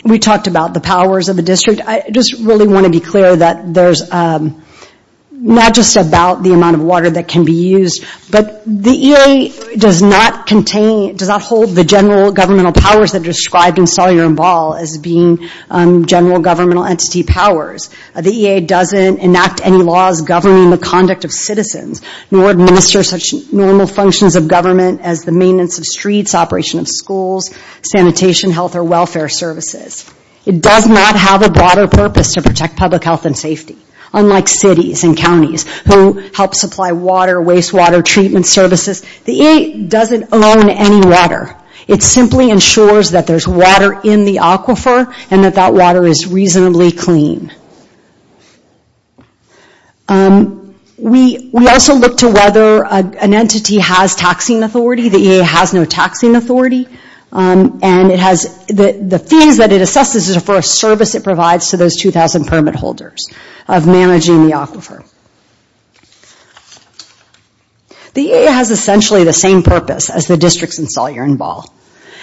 We talked about the powers of the district. I just really want to be clear that there's not just about the amount of water that can be used, but the EAA does not contain – does not hold the general governmental powers that are described in Stolyar and Ball as being general governmental entity powers. The EAA doesn't enact any laws governing the conduct of citizens nor administer such normal functions of government as the maintenance of streets, operation of schools, sanitation, health, or welfare services. It does not have a broader purpose to protect public health and safety. Unlike cities and counties who help supply water, wastewater treatment services, the EAA doesn't own any water. It simply ensures that there's water in the aquifer and that that water is reasonably clean. We also look to whether an entity has taxing authority. The EAA has no taxing authority. And it has – the fees that it assesses is for a service it provides The EAA has essentially the same purpose as the districts in Stolyar and Ball.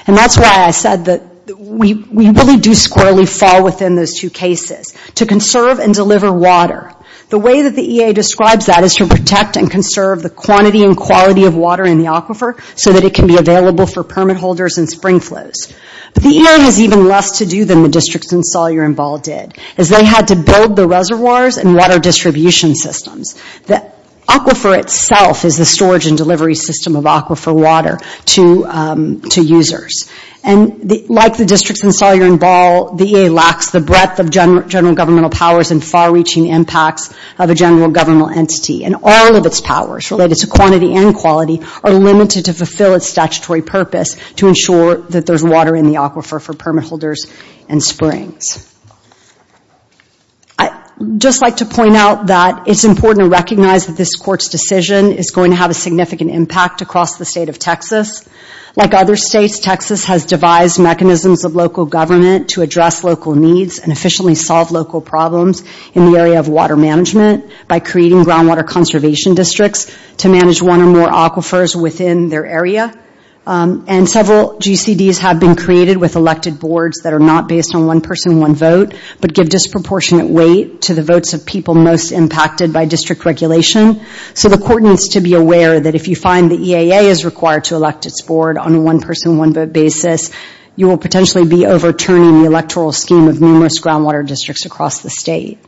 And that's why I said that we really do squarely fall within those two cases, to conserve and deliver water. The way that the EAA describes that is to protect and conserve the quantity and quality of water in the aquifer so that it can be available for permit holders and spring flows. But the EAA has even less to do than the districts in Stolyar and Ball did, as they had to build the reservoirs and water distribution systems. The aquifer itself is the storage and delivery system of aquifer water to users. And like the districts in Stolyar and Ball, the EAA lacks the breadth of general governmental powers and far-reaching impacts of a general governmental entity. And all of its powers, related to quantity and quality, are limited to fulfill its statutory purpose to ensure that there's water in the aquifer for permit holders and springs. I'd just like to point out that it's important to recognize that this court's decision is going to have a significant impact across the state of Texas. Like other states, Texas has devised mechanisms of local government to address local needs and efficiently solve local problems in the area of water management by creating groundwater conservation districts to manage one or more aquifers within their area. And several GCDs have been created with elected boards that are not based on one person, one vote, but give disproportionate weight to the votes of people most impacted by district regulation. So the court needs to be aware that if you find the EAA is required to elect its board on a one-person, one-vote basis, you will potentially be overturning the electoral scheme of numerous groundwater districts across the state.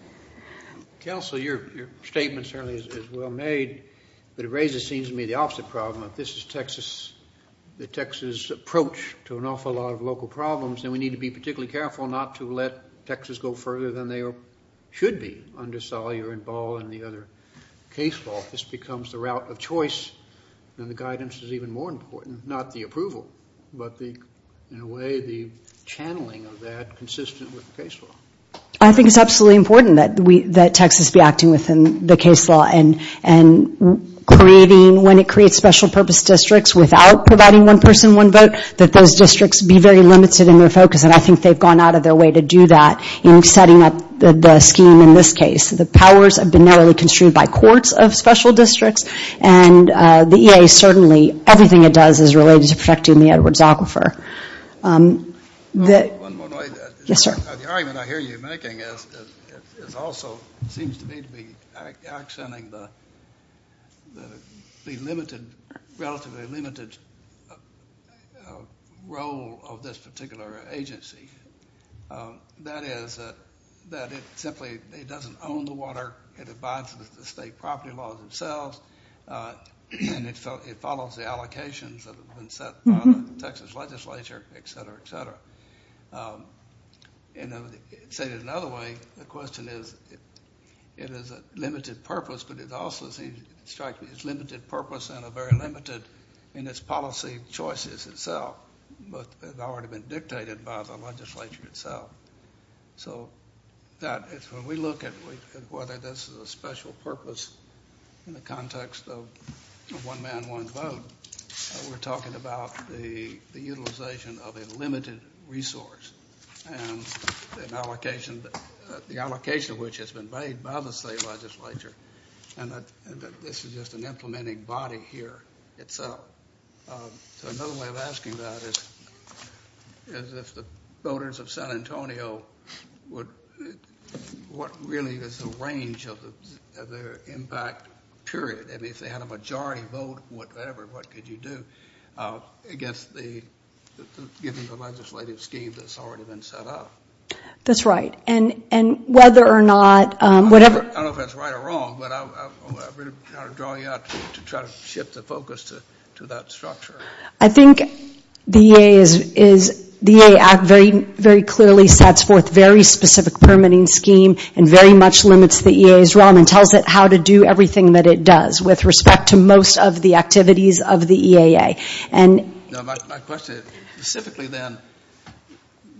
– Counsel, your statement certainly is well made, but it raises, it seems to me, the opposite problem. If this is Texas, the Texas approach to an awful lot of local problems, then we need to be particularly careful not to let Texas go further than they should be under Salyer and Ball and the other case law. This becomes the route of choice, and the guidance is even more important, not the approval, but the, in a way, the channeling of that consistent with the case law. – I think it's absolutely important that we, that Texas be acting within the case law and creating, when it creates special purpose districts without providing one person, one vote, that those districts be very limited in their focus, and I think they've gone out of their way to do that in setting up the scheme in this case. The powers have been narrowly construed by courts of special districts, and the EAA, certainly, everything it does is related to protecting the Edwards Aquifer. – One more way. – Yes, sir. – The argument I hear you making is also, seems to me to be accenting the limited, relatively limited role of this particular agency. That is, that it simply, it doesn't own the water, it abides with the state property laws themselves, and it follows the allocations that have been set by the Texas legislature, et cetera, et cetera. And, say it another way, the question is, it is a limited purpose, but it also seems, strikes me as limited purpose and a very limited, in its policy choices itself, but they've already been dictated by the legislature itself. So, that, when we look at whether this is a special purpose in the context of one man, one vote, we're talking about the utilization of a limited resource, and an allocation, the allocation of which has been made by the state legislature, and that this is just an implementing body here itself. So, another way of asking that is, is if the voters of San Antonio would, what really is the range of their impact period? I mean, if they had a majority vote, whatever, what could you do against the, given the legislative scheme that's already been set up? – That's right, and whether or not, whatever. I don't know if that's right or wrong, but I'm really kind of drawing out to try to shift the focus to that structure. – I think the EA is, the EA Act very clearly sets forth very specific permitting scheme, and very much limits the EA's realm, and tells it how to do everything that it does with respect to most of the activities of the EAA. – No, my question is, specifically then,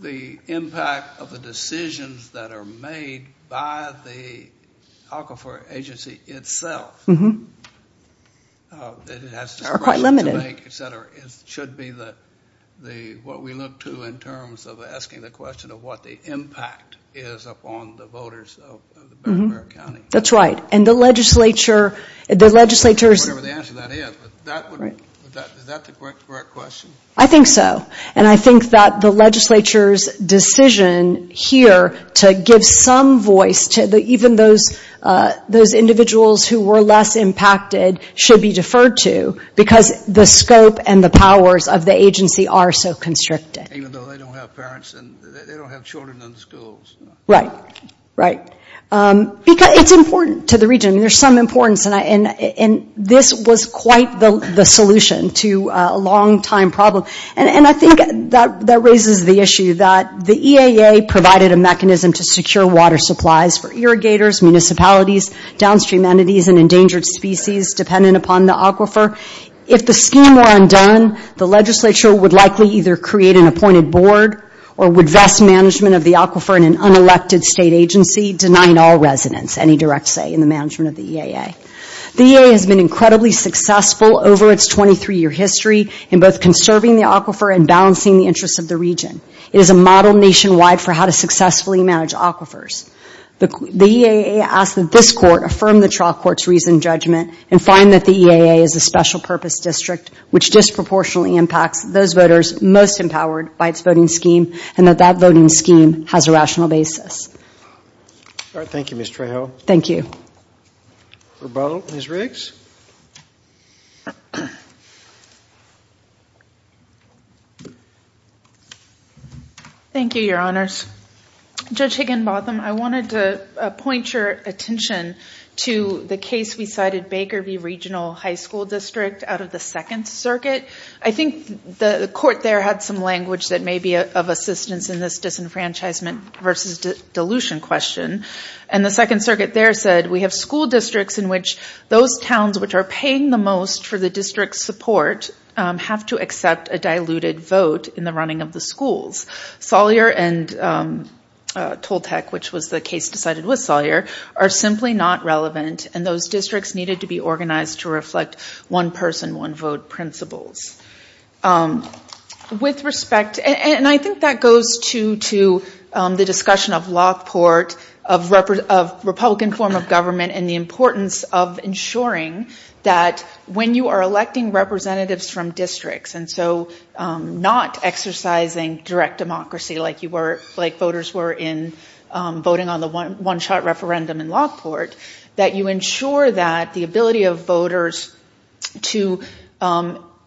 the impact of the decisions that are made by the aquifer agency itself, that it has to make, etc., should be the, what we look to in terms of asking the question of what the impact is upon the voters of the county. – That's right, and the legislature, the legislature's... – Whatever the answer to that is, is that the correct question? – I think so, and I think that the legislature's decision here to give some voice to the, even those individuals who were less impacted should be deferred to, because the scope and the powers of the agency are so constricted. – Even though they don't have parents, and they don't have children in the schools. – Right, right, because it's important to the region. There's some importance, and this was quite the solution to a long-time problem, and I think that raises the issue that the EAA provided a mechanism to secure water supplies for irrigators, municipalities, downstream entities, and endangered species dependent upon the aquifer. If the scheme were undone, the legislature would likely either create an appointed board, or would vest management of the aquifer in an unelected state agency, denying all residents any direct say in the management of the EAA. The EAA has been incredibly successful over its 23-year history in both conserving the aquifer and balancing the interests of the region. It is a model nationwide for how to successfully manage aquifers. The EAA asks that this court affirm the trial court's reasoned judgment and find that the EAA is a special-purpose district which disproportionately impacts those voters most empowered by its voting scheme, and that that voting scheme has a rational basis. – All right, thank you, Ms. Trejo. – Thank you. – Rebuttal, Ms. Riggs. – Thank you, Your Honors. Judge Higginbotham, I wanted to point your attention to the case we cited, Baker v. Regional High School District out of the Second Circuit. I think the court there had some language that may be of assistance in this disenfranchisement versus dilution question, and the Second Circuit there said, we have school districts in which those towns which are paying the most for the district's support have to accept a diluted vote in the running of the schools. Salyer and Toltec, which was the case decided with Salyer, are simply not relevant, and those districts needed to be organized to reflect one-person, one-vote principles. With respect, and I think that goes to the discussion of Lockport, of Republican form of government and the importance of ensuring that when you are electing representatives from districts, and so not exercising direct democracy like voters were in voting on the one-shot referendum in Lockport, that you ensure that the ability of voters to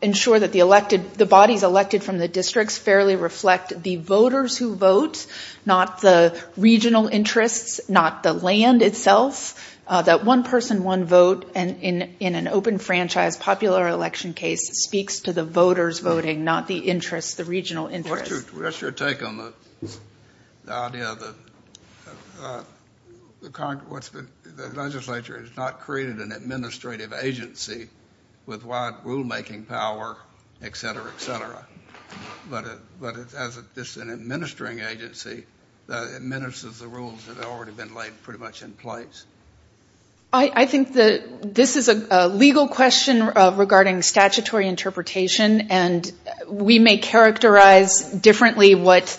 ensure that the bodies elected from the districts fairly reflect the voters who vote, not the regional interests, not the land itself, that one-person, one-vote and in an open-franchise popular election case speaks to the voters voting, not the interests, the regional interests. What's your take on the idea that the legislature has not created an administrative agency with wide rule-making power, et cetera, et cetera, but this is an administering agency that administers the rules that have already been laid pretty much in place? I think that this is a legal question regarding statutory interpretation, and we may characterize differently what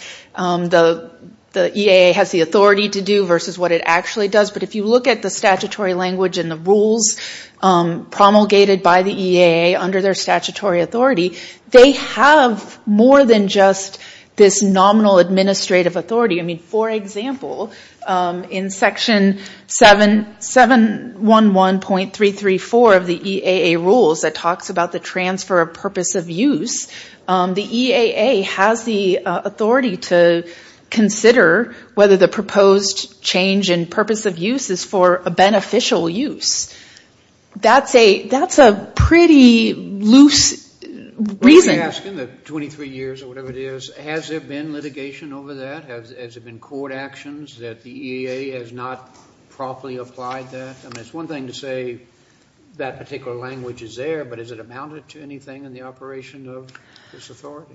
the EAA has the authority to do versus what it actually does, but if you look at the statutory language and the rules promulgated by the EAA under their statutory authority, they have more than just this nominal administrative authority. I mean, for example, in section 711.334 of the EAA rules that talks about the transfer of purpose of use, the EAA has the authority to consider whether the proposed change in purpose of use is for a beneficial use. That's a pretty loose reason. Let me ask in the 23 years or whatever it is, has there been litigation over that? Has there been court actions that the EAA has not properly applied that? I mean, it's one thing to say that particular language is there, but has it amounted to anything in the operation of this authority?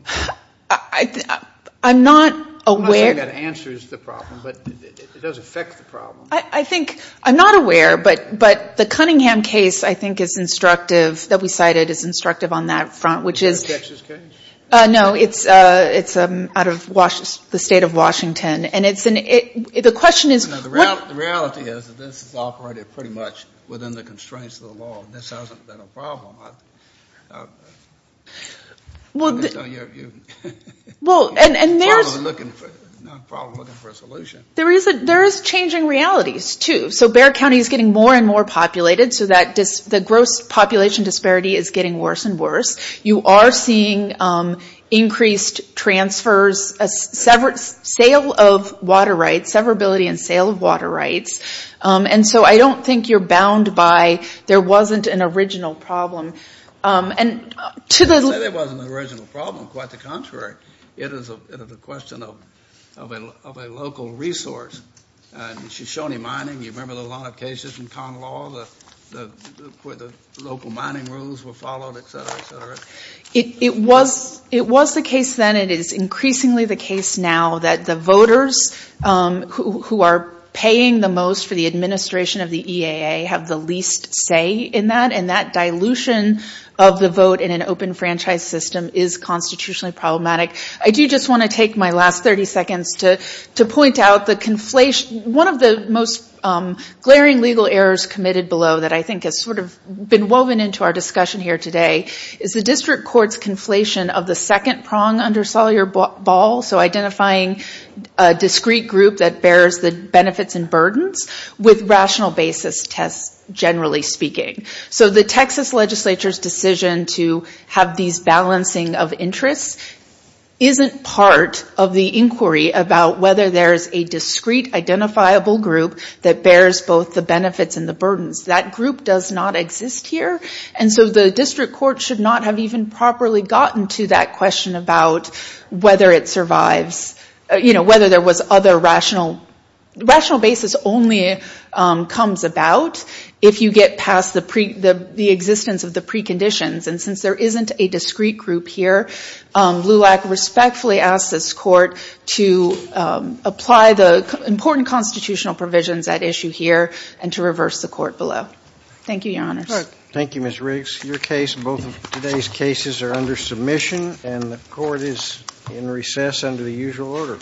I'm not aware. I'm not saying that answers the problem, but it does affect the problem. I think, I'm not aware, but the Cunningham case, I think, is instructive, that we cited is instructive on that front, which is... Is that a Texas case? No, it's out of the state of Washington. The question is... The reality is that this is operated pretty much within the constraints of the law. This hasn't been a problem. Well, and there's... Probably looking for a solution. There is changing realities too. Bexar County is getting more and more populated, so the gross population disparity is getting worse and worse. You are seeing increased transfers, sale of water rights, severability and sale of water rights. And so I don't think you're bound by there wasn't an original problem. And to the... I didn't say there wasn't an original problem. Quite the contrary. It is a question of a local resource. Shoshone Mining, you remember a lot of cases in con law, where the local mining rules were followed, et cetera, et cetera. It was the case then. It is increasingly the case now that the voters who are paying the most for the administration of the EAA have the least say in that. And that dilution of the vote in an open franchise system is constitutionally problematic. I do just want to take my last 30 seconds to point out the conflation... One of the most glaring legal errors committed below that I think has sort of been woven into our discussion here today is the district court's conflation of the second prong under Salyer-Ball, so identifying a discrete group that bears the benefits and burdens with rational basis tests, generally speaking. So the Texas legislature's decision to have these balancing of interests isn't part of the inquiry about whether there's a discrete identifiable group that bears both the benefits and the burdens. That group does not exist here. And so the district court should not have even properly gotten to that question about whether it survives, whether there was other rational... Rational basis only comes about if you get past the existence of the preconditions. And since there isn't a discrete group here, LULAC respectfully asks this court to apply the important constitutional provisions at issue here and to reverse the court below. Thank you, Your Honors. Thank you, Ms. Riggs. Your case and both of today's cases are under submission, and the court is in recess under the usual order.